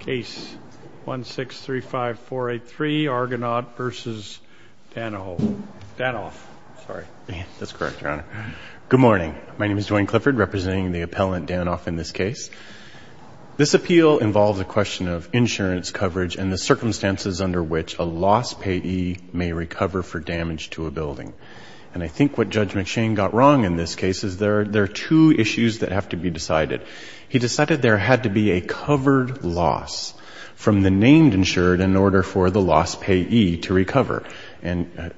Case 1635483, Argonaut v. Danoff. Sorry. That's correct, Your Honor. Good morning. My name is Duane Clifford, representing the appellant Danoff in this case. This appeal involves a question of insurance coverage and the circumstances under which a lost payee may recover for damage to a building. And I think what Judge McShane got wrong in this case is there are two issues that have to be decided. He decided there had to be a covered loss from the named insured in order for the lost payee to recover. And a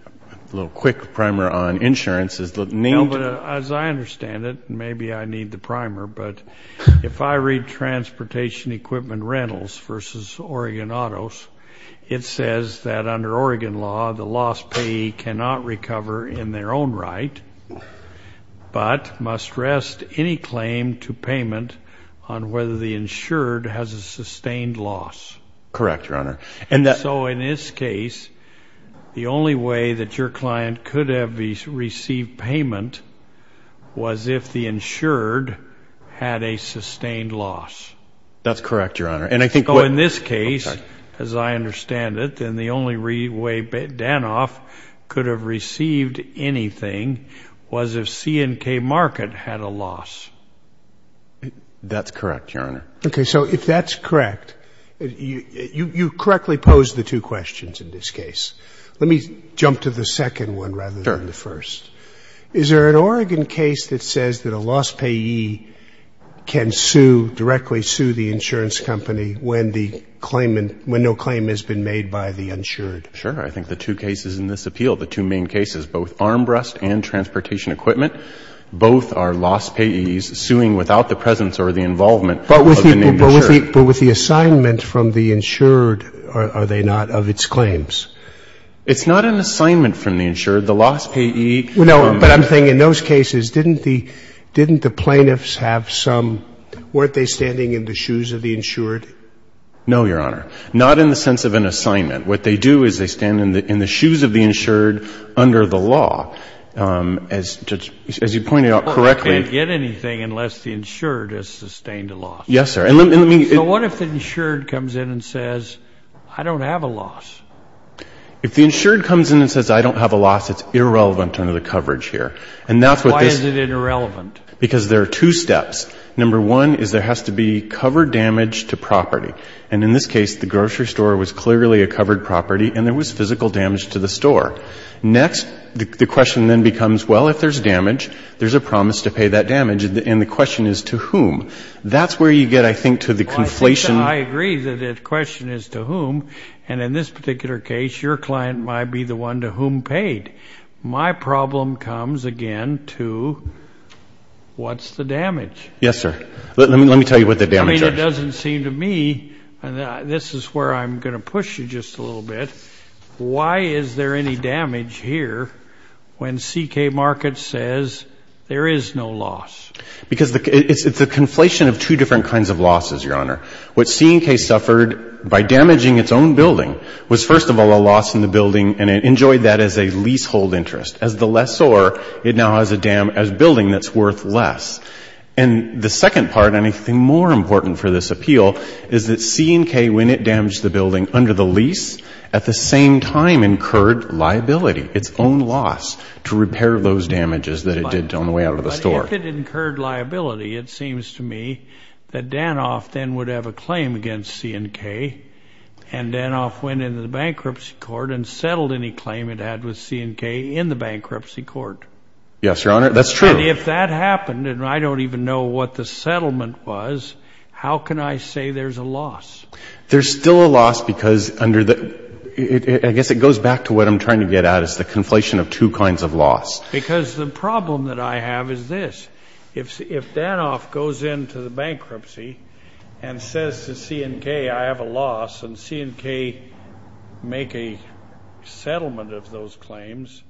little quick primer on insurance is the named – No, but as I understand it, maybe I need the primer, but if I read Transportation Equipment Rentals v. Oregon Autos, it says that under Oregon law, the lost payee cannot recover in their own right but must rest any claim to payment on whether the insured has a sustained loss. Correct, Your Honor. So in this case, the only way that your client could have received payment was if the insured had a sustained loss. That's correct, Your Honor. So in this case, as I understand it, then the only way Danoff could have received anything was if C&K Market had a loss. That's correct, Your Honor. Okay, so if that's correct, you correctly posed the two questions in this case. Let me jump to the second one rather than the first. Sure. Is there an Oregon case that says that a lost payee can sue, directly sue the insurance company when the claimant – when no claim has been made by the insured? Sure. I think the two cases in this appeal, the two main cases, both armrest and transportation equipment, both are lost payees suing without the presence or the involvement of the named insured. But with the assignment from the insured, are they not of its claims? It's not an assignment from the insured. The lost payee – No, but I'm saying in those cases, didn't the plaintiffs have some – weren't they standing in the shoes of the insured? No, Your Honor. Not in the sense of an assignment. What they do is they stand in the shoes of the insured under the law. As you pointed out correctly – Well, they can't get anything unless the insured has sustained a loss. Yes, sir. And let me – But what if the insured comes in and says, I don't have a loss? If the insured comes in and says, I don't have a loss, it's irrelevant under the coverage here. And that's what this – Why is it irrelevant? Because there are two steps. Number one is there has to be covered damage to property. And in this case, the grocery store was clearly a covered property, and there was physical damage to the store. Next, the question then becomes, well, if there's damage, there's a promise to pay that damage. And the question is to whom? That's where you get, I think, to the conflation – And in this particular case, your client might be the one to whom paid. My problem comes, again, to what's the damage? Yes, sir. Let me tell you what the damage is. I mean, it doesn't seem to me – And this is where I'm going to push you just a little bit. Why is there any damage here when C&K Markets says there is no loss? Because it's a conflation of two different kinds of losses, Your Honor. What C&K suffered by damaging its own building was, first of all, a loss in the building, and it enjoyed that as a leasehold interest. As the lessor, it now has a building that's worth less. And the second part, and I think more important for this appeal, is that C&K, when it damaged the building under the lease, at the same time incurred liability, its own loss, to repair those damages that it did on the way out of the store. If it incurred liability, it seems to me that Danoff then would have a claim against C&K and Danoff went into the bankruptcy court and settled any claim it had with C&K in the bankruptcy court. Yes, Your Honor, that's true. And if that happened, and I don't even know what the settlement was, how can I say there's a loss? There's still a loss because under the – I guess it goes back to what I'm trying to get at is the conflation of two kinds of loss. Because the problem that I have is this. If Danoff goes into the bankruptcy and says to C&K, I have a loss, and C&K make a settlement of those claims,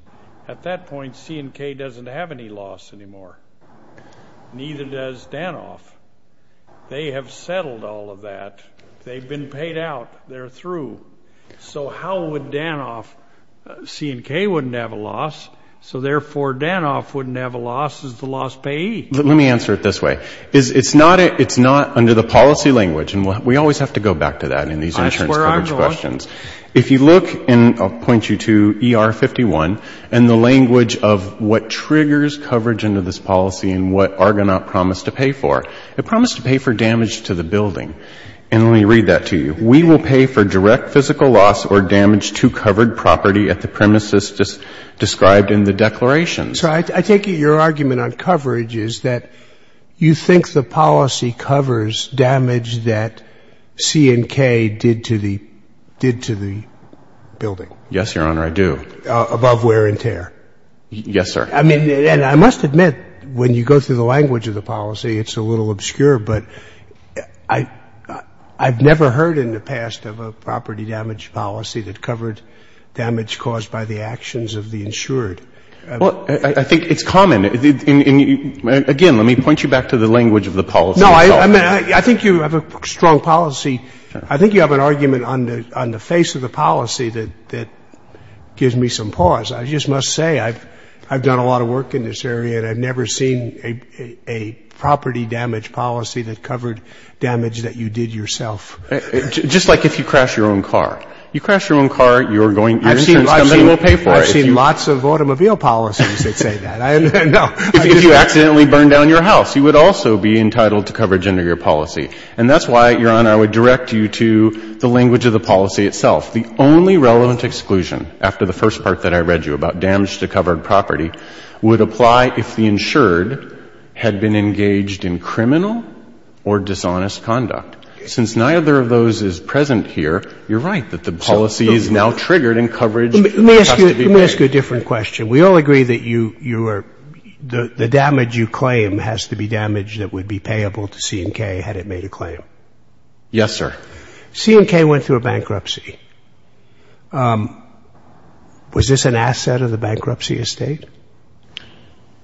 at that point C&K doesn't have any loss anymore. Neither does Danoff. They have settled all of that. They've been paid out. They're through. So how would Danoff – C&K wouldn't have a loss. So therefore, Danoff wouldn't have a loss as the loss paid. Let me answer it this way. It's not under the policy language, and we always have to go back to that in these insurance coverage questions. I swear I'm going to. If you look, and I'll point you to ER 51, and the language of what triggers coverage under this policy and what Argonaut promised to pay for. It promised to pay for damage to the building. And let me read that to you. We will pay for direct physical loss or damage to covered property at the premises described in the declaration. So I take it your argument on coverage is that you think the policy covers damage that C&K did to the building. Yes, Your Honor, I do. Above wear and tear. Yes, sir. I mean, and I must admit, when you go through the language of the policy, it's a little obscure, but I've never heard in the past of a property damage policy that covered damage caused by the actions of the insured. Well, I think it's common. And, again, let me point you back to the language of the policy itself. No, I mean, I think you have a strong policy. I think you have an argument on the face of the policy that gives me some pause. I just must say I've done a lot of work in this area and I've never seen a property damage policy that covered damage that you did yourself. Just like if you crash your own car. You crash your own car, your insurance company will pay for it. I've seen lots of automobile policies that say that. No. If you accidentally burn down your house, you would also be entitled to coverage under your policy. And that's why, Your Honor, I would direct you to the language of the policy itself. The only relevant exclusion, after the first part that I read you about damage to covered property, would apply if the insured had been engaged in criminal or dishonest conduct. Since neither of those is present here, you're right that the policy is now triggered and coverage has to be paid. Let me ask you a different question. We all agree that you are — the damage you claim has to be damage that would be payable to C&K had it made a claim. Yes, sir. C&K went through a bankruptcy. Was this an asset of the bankruptcy estate?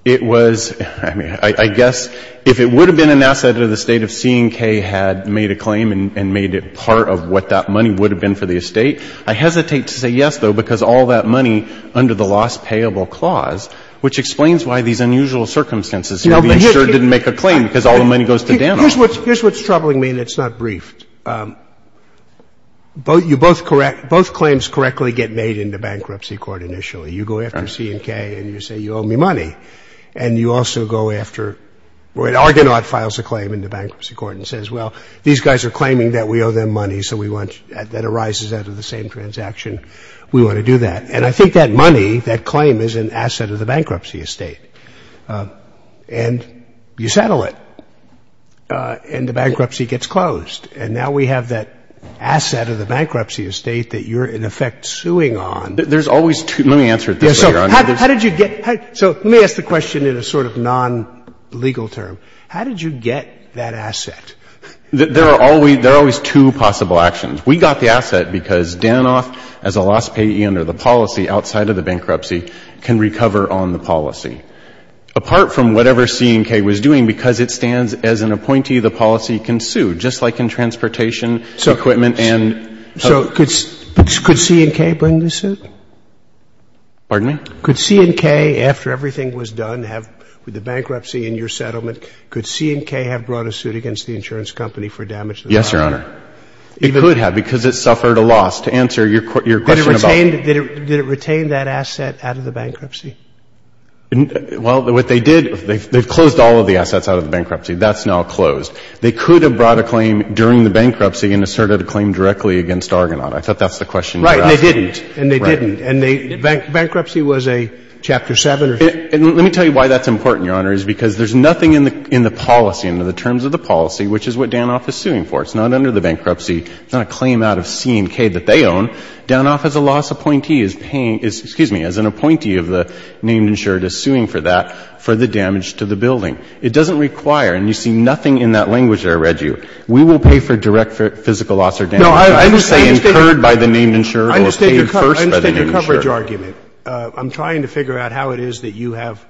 It was. I mean, I guess if it would have been an asset of the estate if C&K had made a claim and made it part of what that money would have been for the estate, I hesitate to say yes, though, because all that money under the lost payable clause, which explains why these unusual circumstances here, the insured didn't make a claim because all the money goes to damage. Here's what's troubling me, and it's not briefed. Both claims correctly get made into bankruptcy court initially. You go after C&K and you say, you owe me money. And you also go after — Argonaut files a claim into bankruptcy court and says, well, these guys are claiming that we owe them money, so we want — that arises out of the same transaction. We want to do that. And I think that money, that claim, is an asset of the bankruptcy estate. And you settle it. And the bankruptcy gets closed. And now we have that asset of the bankruptcy estate that you're, in effect, suing on. There's always two — let me answer it this way, Your Honor. How did you get — so let me ask the question in a sort of non-legal term. How did you get that asset? There are always two possible actions. We got the asset because Danoff, as a lost payee under the policy outside of the bankruptcy, can recover on the policy. Apart from whatever C&K was doing, because it stands as an appointee, the policy can sue, just like in transportation equipment and — So could C&K bring the suit? Pardon me? Could C&K, after everything was done, have — with the bankruptcy and your settlement, could C&K have brought a suit against the insurance company for damage to the property? Yes, Your Honor. It could have, because it suffered a loss. To answer your question about — Did it retain that asset out of the bankruptcy? Well, what they did — they've closed all of the assets out of the bankruptcy. That's now closed. They could have brought a claim during the bankruptcy and asserted a claim directly against Argonaut. I thought that's the question you were asking. Right. And they didn't. And they didn't. Right. And bankruptcy was a Chapter 7 or something? Let me tell you why that's important, Your Honor, is because there's nothing in the policy, under the terms of the policy, which is what Danoff is suing for. It's not under the bankruptcy. It's not a claim out of C&K that they own. Danoff, as a loss appointee, is paying — excuse me, as an appointee of the named insured, is suing for that, for the damage to the building. It doesn't require — and you see nothing in that language that I read you. We will pay for direct physical loss or damage — No, I understand your —— incurred by the named insured or paid first by the named insured. I understand your coverage argument. I'm trying to figure out how it is that you have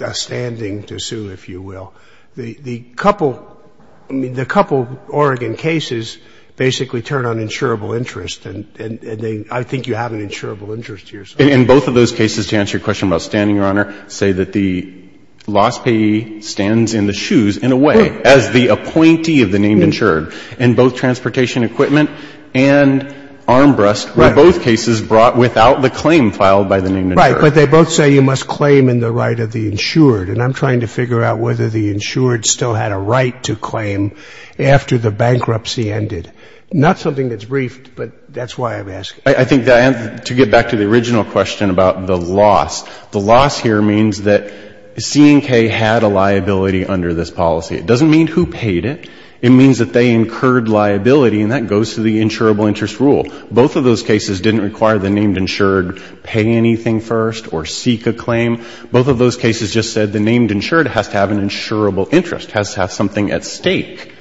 a standing to sue, if you will. The couple — I mean, the couple of Oregon cases basically turn on insurable interest, and they — I think you have an insurable interest here. And both of those cases, to answer your question about standing, Your Honor, say that the loss payee stands in the shoes, in a way, as the appointee of the named insured. And both Transportation Equipment and Armbrust were both cases brought without the claim filed by the named insured. Right. But they both say you must claim in the right of the insured. And I'm trying to figure out whether the insured still had a right to claim after the bankruptcy ended. Not something that's briefed, but that's why I'm asking. I think that — to get back to the original question about the loss, the loss here means that C&K had a liability under this policy. It doesn't mean who paid it. It means that they incurred liability, and that goes to the insurable interest rule. Both of those cases didn't require the named insured pay anything first or seek a claim. Both of those cases just said the named insured has to have an insurable interest, has to have something at stake.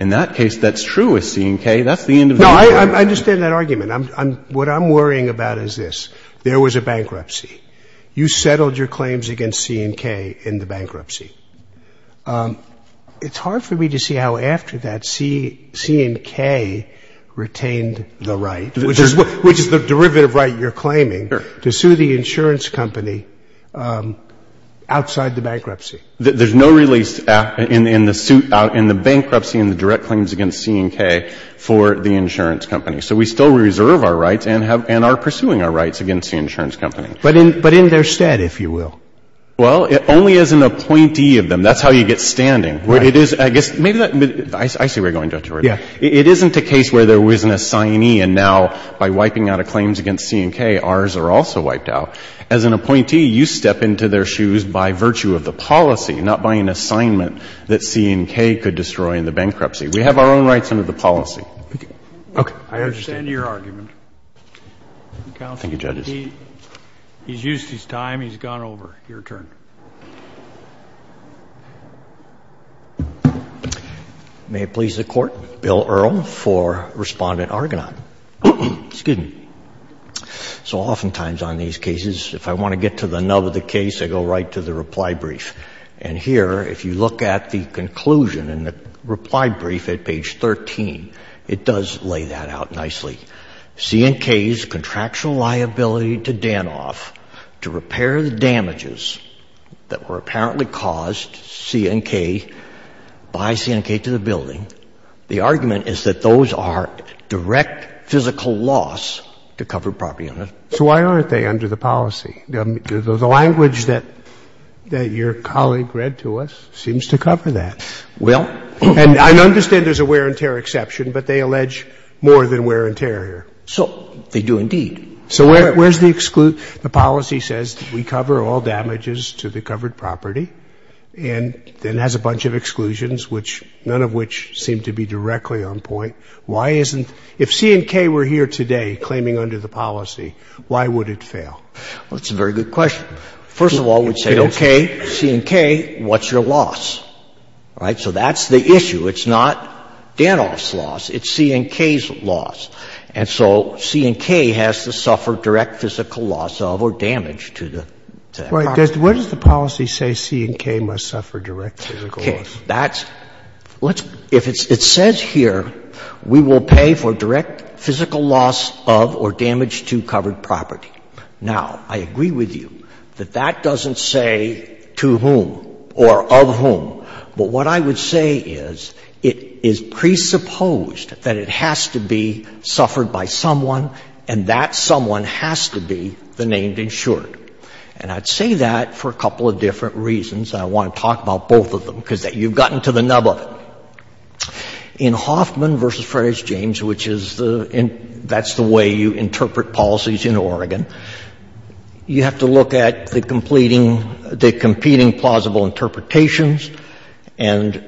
In that case, that's true with C&K. That's the end of the argument. No, I understand that argument. What I'm worrying about is this. There was a bankruptcy. You settled your claims against C&K in the bankruptcy. It's hard for me to see how after that C&K retained the right, which is the derivative right you're claiming, to sue the insurance company outside the bankruptcy. There's no release in the bankruptcy in the direct claims against C&K for the insurance company. So we still reserve our rights and are pursuing our rights against the insurance company. But in their stead, if you will. Well, only as an appointee of them. That's how you get standing. Right. I guess maybe that — I see where you're going, Justice Breyer. Yeah. It isn't a case where there was an assignee and now by wiping out a claims against C&K, ours are also wiped out. As an appointee, you step into their shoes by virtue of the policy, not by an assignment that C&K could destroy in the bankruptcy. We have our own rights under the policy. Okay. I understand your argument. Counsel. Thank you, Judge. He's gone over. Your turn. May it please the Court. Bill Earl for Respondent Argonaut. Excuse me. So oftentimes on these cases, if I want to get to the nub of the case, I go right to the reply brief. And here, if you look at the conclusion in the reply brief at page 13, it does lay that out nicely. C&K's contractual liability to Danoff to repair the damages that were apparently caused by C&K to the building. The argument is that those are direct physical loss to covered property owners. So why aren't they under the policy? The language that your colleague read to us seems to cover that. Well. And I understand there's a wear and tear exception, but they allege more than wear and tear here. So they do indeed. So where's the exclusion? The policy says that we cover all damages to the covered property and then has a bunch of exclusions, which none of which seem to be directly on point. Why isn't? If C&K were here today claiming under the policy, why would it fail? Well, that's a very good question. First of all, we'd say, okay, C&K, what's your loss? All right? So that's the issue. It's not Danoff's loss. It's C&K's loss. And so C&K has to suffer direct physical loss of or damage to the property. Right. What does the policy say C&K must suffer direct physical loss? Okay. That's — if it says here, we will pay for direct physical loss of or damage to covered property. Now, I agree with you that that doesn't say to whom or of whom. But what I would say is it is presupposed that it has to be suffered by someone and that someone has to be the named insured. And I'd say that for a couple of different reasons, and I want to talk about both of them, because you've gotten to the nub of it. In Hoffman v. Frederick James, which is the — that's the way you interpret policies in Oregon, you have to look at the completing — the competing plausible interpretations and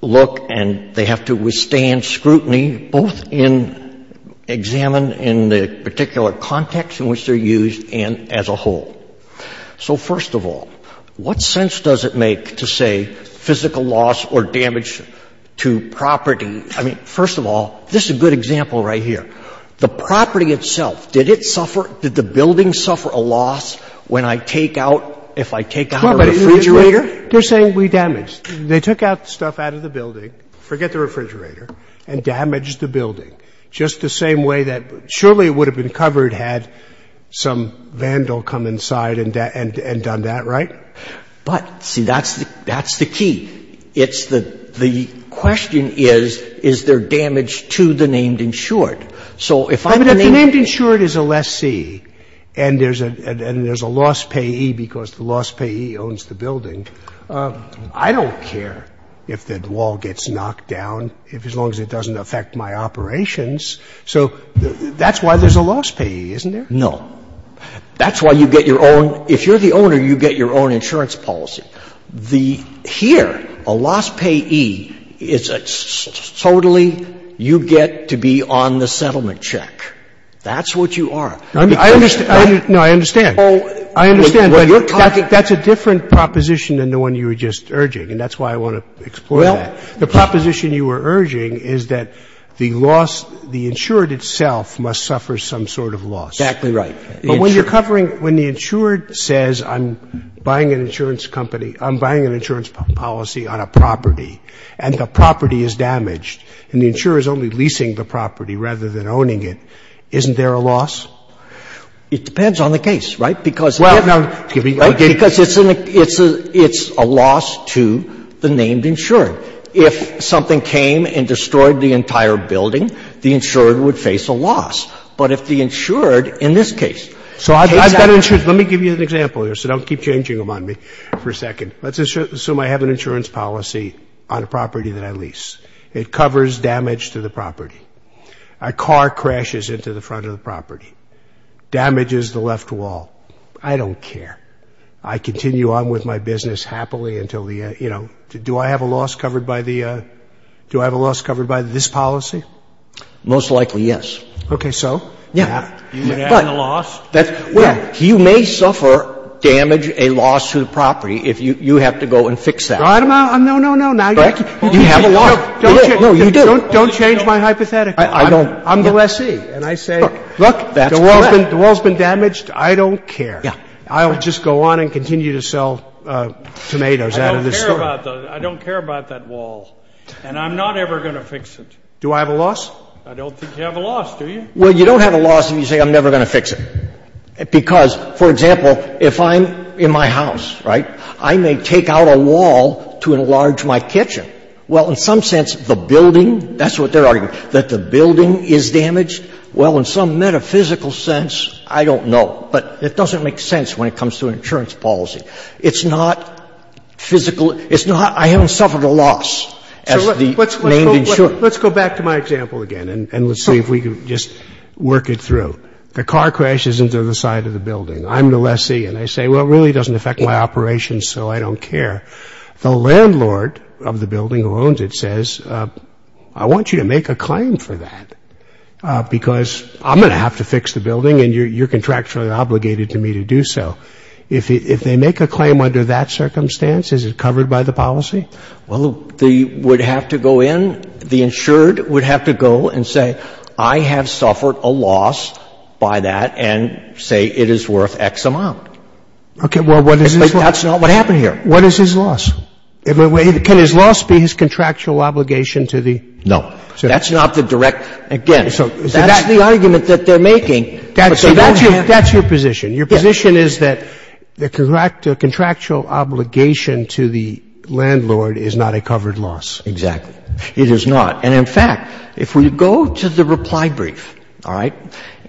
look — and they have to withstand scrutiny both in — examine in the particular context in which they're used and as a whole. So first of all, what sense does it make to say physical loss or damage to property — I mean, first of all, this is a good example right here. The property itself, did it suffer — did the building suffer a loss when I take out — if I take out a refrigerator? They're saying we damaged. They took out stuff out of the building, forget the refrigerator, and damaged the building just the same way that surely it would have been covered had some vandal come inside and done that, right? But, see, that's the key. It's the — the question is, is there damage to the named insured? So if I'm the — But if the named insured is a lessee and there's a loss payee because the loss payee owns the building, I don't care if the wall gets knocked down as long as it doesn't affect my operations. So that's why there's a loss payee, isn't there? No. That's why you get your own — if you're the owner, you get your own insurance policy. The — here, a loss payee is a — totally, you get to be on the settlement check. That's what you are. I mean, I understand. No, I understand. I understand, but that's a different proposition than the one you were just urging, and that's why I want to explore that. The proposition you were urging is that the loss — the insured itself must suffer some sort of loss. Exactly right. But when you're covering — when the insured says, I'm buying an insurance company, I'm buying an insurance policy on a property, and the property is damaged, and the insurer is only leasing the property rather than owning it, isn't there a loss? It depends on the case, right? Because if — Well, no. Excuse me. Because it's a — it's a loss to the named insured. If something came and destroyed the entire building, the insured would face a loss. But if the insured, in this case — So I've got insurance. Let me give you an example here, so don't keep changing them on me for a second. Let's assume I have an insurance policy on a property that I lease. It covers damage to the property. A car crashes into the front of the property, damages the left wall. I don't care. I continue on with my business happily until the — you know, do I have a loss covered by the — do I have a loss covered by this policy? Most likely, yes. Okay. So? Yeah. You would have a loss? Well, you may suffer damage, a loss to the property, if you have to go and fix that. No, no, no. You have a loss. No, you do. Don't change my hypothetical. I don't. I'm the lessee. And I say — Look, that's correct. The wall's been damaged. I don't care. Yeah. I'll just go on and continue to sell tomatoes out of this story. I don't care about that wall. And I'm not ever going to fix it. Do I have a loss? I don't think you have a loss, do you? Well, you don't have a loss if you say, I'm never going to fix it. Because, for example, if I'm in my house, right, I may take out a wall to enlarge my kitchen. Well, in some sense, the building, that's what they're arguing, that the building is damaged. Well, in some metaphysical sense, I don't know. But it doesn't make sense when it comes to an insurance policy. It's not physical. It's not, I haven't suffered a loss as the named insurer. Let's go back to my example again and let's see if we can just work it through. The car crashes into the side of the building. I'm the lessee. And I say, well, it really doesn't affect my operations, so I don't care. The landlord of the building who owns it says, I want you to make a claim for that because I'm going to have to fix the building and you're contractually obligated to me to do so. If they make a claim under that circumstance, is it covered by the policy? Well, they would have to go in, the insured would have to go and say, I have suffered a loss by that, and say it is worth X amount. Okay. Well, what is this loss? But that's not what happened here. What is his loss? Can his loss be his contractual obligation to the? No. That's not the direct, again, that's the argument that they're making. That's your position. Your position is that the contractual obligation to the landlord is not a covered loss. Exactly. It is not. And in fact, if we go to the reply brief, all right,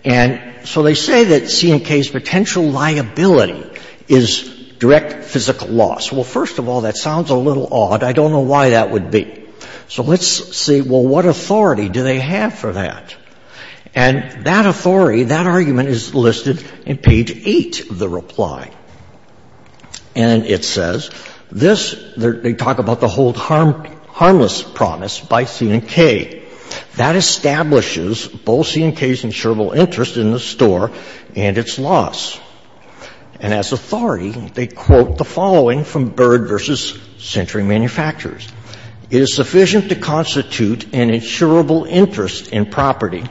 and so they say that C&K's potential liability is direct physical loss. Well, first of all, that sounds a little odd. I don't know why that would be. So let's see, well, what authority do they have for that? And that authority, that argument is listed in page 8 of the reply. And it says, this, they talk about the hold harmless promise by C&K. That establishes both C&K's insurable interest in the store and its loss. And as authority, they quote the following from Byrd v. Century Manufacturers. It is sufficient to constitute an insurable interest in property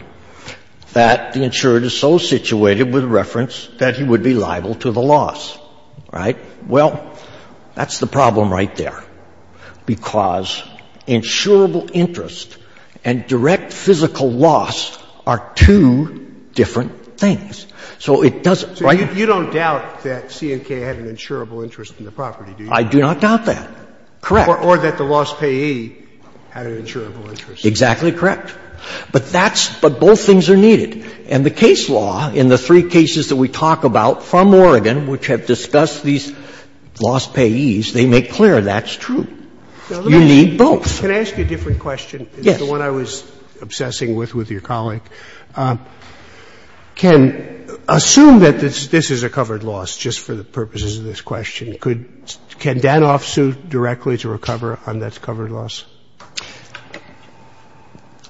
that the insured is so situated with reference that he would be liable to the loss. Right? Well, that's the problem right there, because insurable interest and direct physical loss are two different things. So it doesn't right? So you don't doubt that C&K had an insurable interest in the property, do you? I do not doubt that. Correct. Or that the loss payee had an insurable interest. Exactly correct. But that's, but both things are needed. And the case law in the three cases that we talk about from Oregon, which have discussed these loss payees, they make clear that's true. You need both. Can I ask you a different question? Yes. The one I was obsessing with, with your colleague. Can, assume that this is a covered loss, just for the purposes of this question, could, can Danoff sue directly to recover on that covered loss?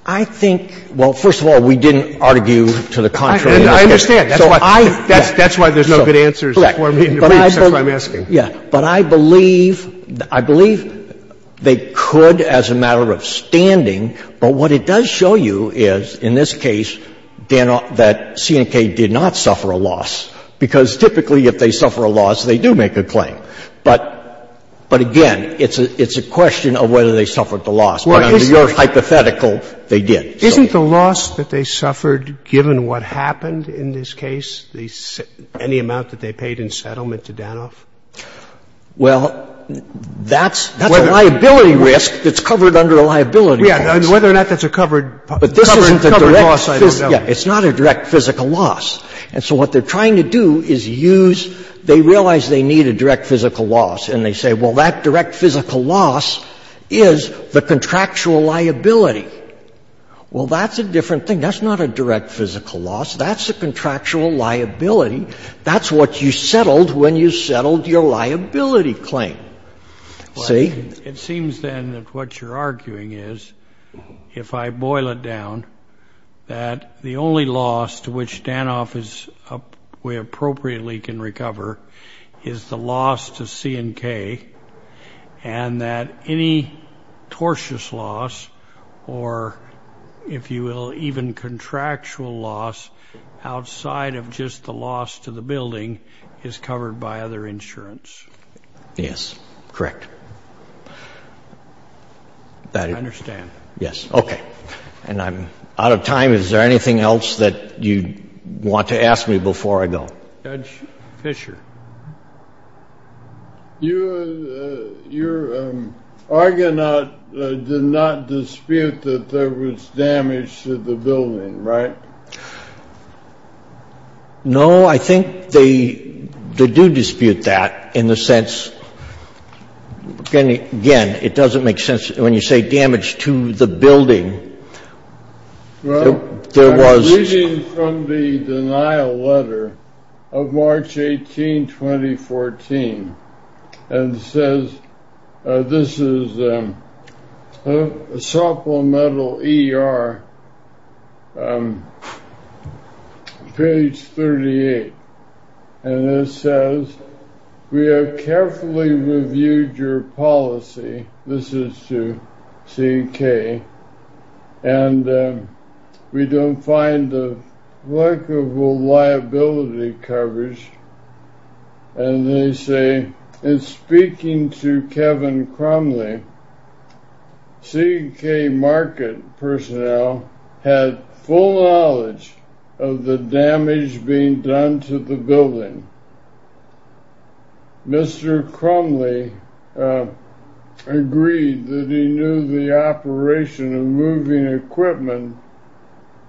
I think, well, first of all, we didn't argue to the contrary. I understand. That's why there's no good answers for me in the briefs. That's why I'm asking. Yeah. But I believe, I believe they could as a matter of standing. But what it does show you is, in this case, Danoff, that C&K did not suffer a loss, because typically if they suffer a loss, they do make a claim. But, but again, it's a, it's a question of whether they suffered the loss. But under your hypothetical, they did. Isn't the loss that they suffered, given what happened in this case, any amount that they paid in settlement to Danoff? Well, that's, that's a liability risk that's covered under a liability clause. Yeah. Whether or not that's a covered, covered, covered loss, I don't know. But this isn't a direct, yeah, it's not a direct physical loss. And so what they're trying to do is use, they realize they need a direct physical loss. And they say, well, that direct physical loss is the contractual liability. Well, that's a different thing. That's not a direct physical loss. That's a contractual liability. That's what you settled when you settled your liability claim. See? It seems then that what you're arguing is, if I boil it down, that the only loss to which Danoff is, we appropriately can recover, is the loss to C&K. And that any tortious loss, or if you will, even contractual loss, outside of just the loss to the building, is covered by other insurance. Yes. Correct. I understand. Yes. Okay. And I'm out of time. Is there anything else that you want to ask me before I go? Judge Fischer. Your argonaut did not dispute that there was damage to the building, right? No, I think they do dispute that in the sense, again, it doesn't make sense when you say damage to the building. Well, I was reading from the denial letter of March 18, 2014, and it says, this is Supplemental ER, page 38. And it says, we have carefully reviewed your policy, this is to C&K, and we don't find a lack of liability coverage. And they say, in speaking to Kevin Crumley, C&K market personnel had full knowledge of the damage being done to the building. Mr. Crumley agreed that he knew the operation of moving equipment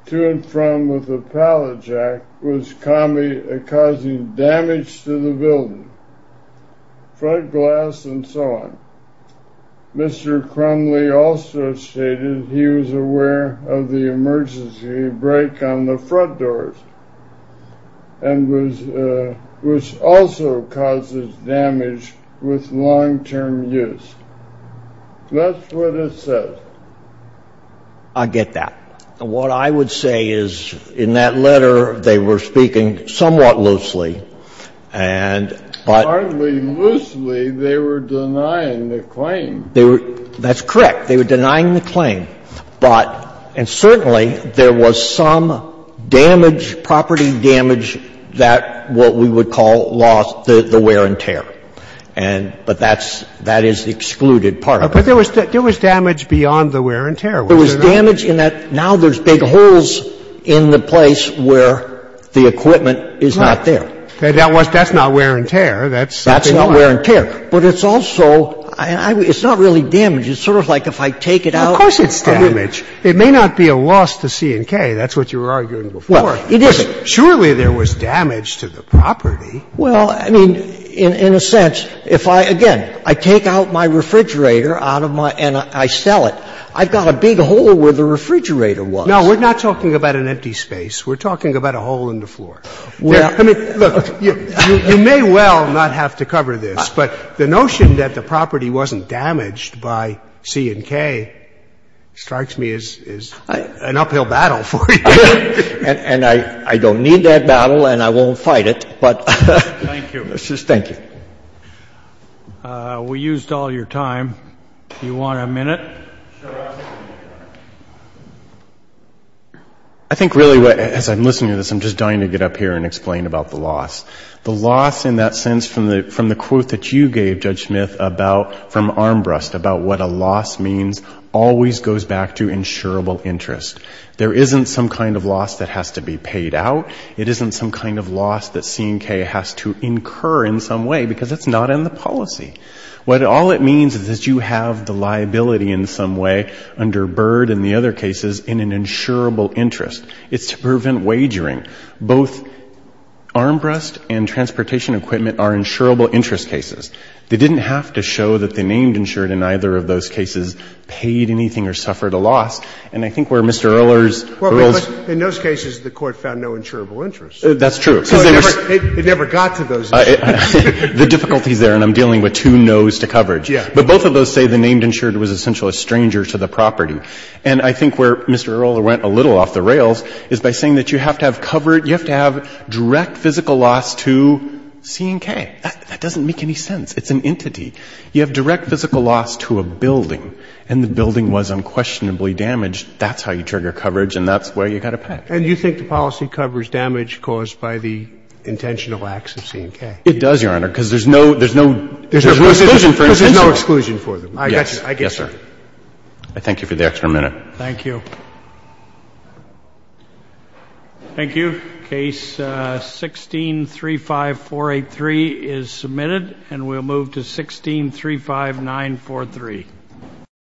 to and from with a pallet jack was causing damage to the building, front glass and so on. Mr. Crumley also stated he was aware of the emergency brake on the front doors, which also causes damage with long-term use. That's what it says. I get that. What I would say is, in that letter, they were speaking somewhat loosely, and but Hardly loosely, they were denying the claim. They were, that's correct. They were denying the claim. But, and certainly, there was some damage, property damage, that what we would call lost the wear and tear. And, but that's, that is the excluded part of it. But there was damage beyond the wear and tear. There was damage in that now there's big holes in the place where the equipment is not there. That's not wear and tear. That's not. That's not wear and tear. But it's also, it's not really damage. It's sort of like if I take it out. Of course it's damage. It may not be a loss to C&K. That's what you were arguing before. Well, it isn't. Surely there was damage to the property. Well, I mean, in a sense, if I, again, I take out my refrigerator out of my, and I sell it, I've got a big hole where the refrigerator was. No, we're not talking about an empty space. We're talking about a hole in the floor. I mean, look, you may well not have to cover this, but the notion that the property wasn't damaged by C&K strikes me as an uphill battle for you. And I don't need that battle and I won't fight it, but. Thank you. Thank you. We used all your time. Do you want a minute? I think really, as I'm listening to this, I'm just dying to get up here and explain about the loss. The loss in that sense from the quote that you gave, Judge Smith, about, from Armbrust, about what a loss means always goes back to insurable interest. There isn't some kind of loss that has to be paid out. It isn't some kind of loss that C&K has to incur in some way because it's not in the policy. All it means is that you have the liability in some way under Byrd and the other cases in an insurable interest. It's to prevent wagering. Both Armbrust and transportation equipment are insurable interest cases. They didn't have to show that they named insured in either of those cases paid anything or suffered a loss. And I think where Mr. Ehrler's rules. In those cases, the court found no insurable interest. That's true. It never got to those issues. The difficulty is there, and I'm dealing with two nos to coverage. But both of those say the named insured was essentially a stranger to the property. And I think where Mr. Ehrler went a little off the rails is by saying that you have to have covered, you have to have direct physical loss to C&K. That doesn't make any sense. It's an entity. You have direct physical loss to a building, and the building was unquestionably damaged. That's how you trigger coverage, and that's where you've got to pay. And you think the policy covers damage caused by the intentional acts of C&K? It does, Your Honor, because there's no exclusion for instance. Because there's no exclusion for them. Yes, sir. I thank you for the extra minute. Thank you. Thank you. Case 1635483 is submitted, and we'll move to 1635943.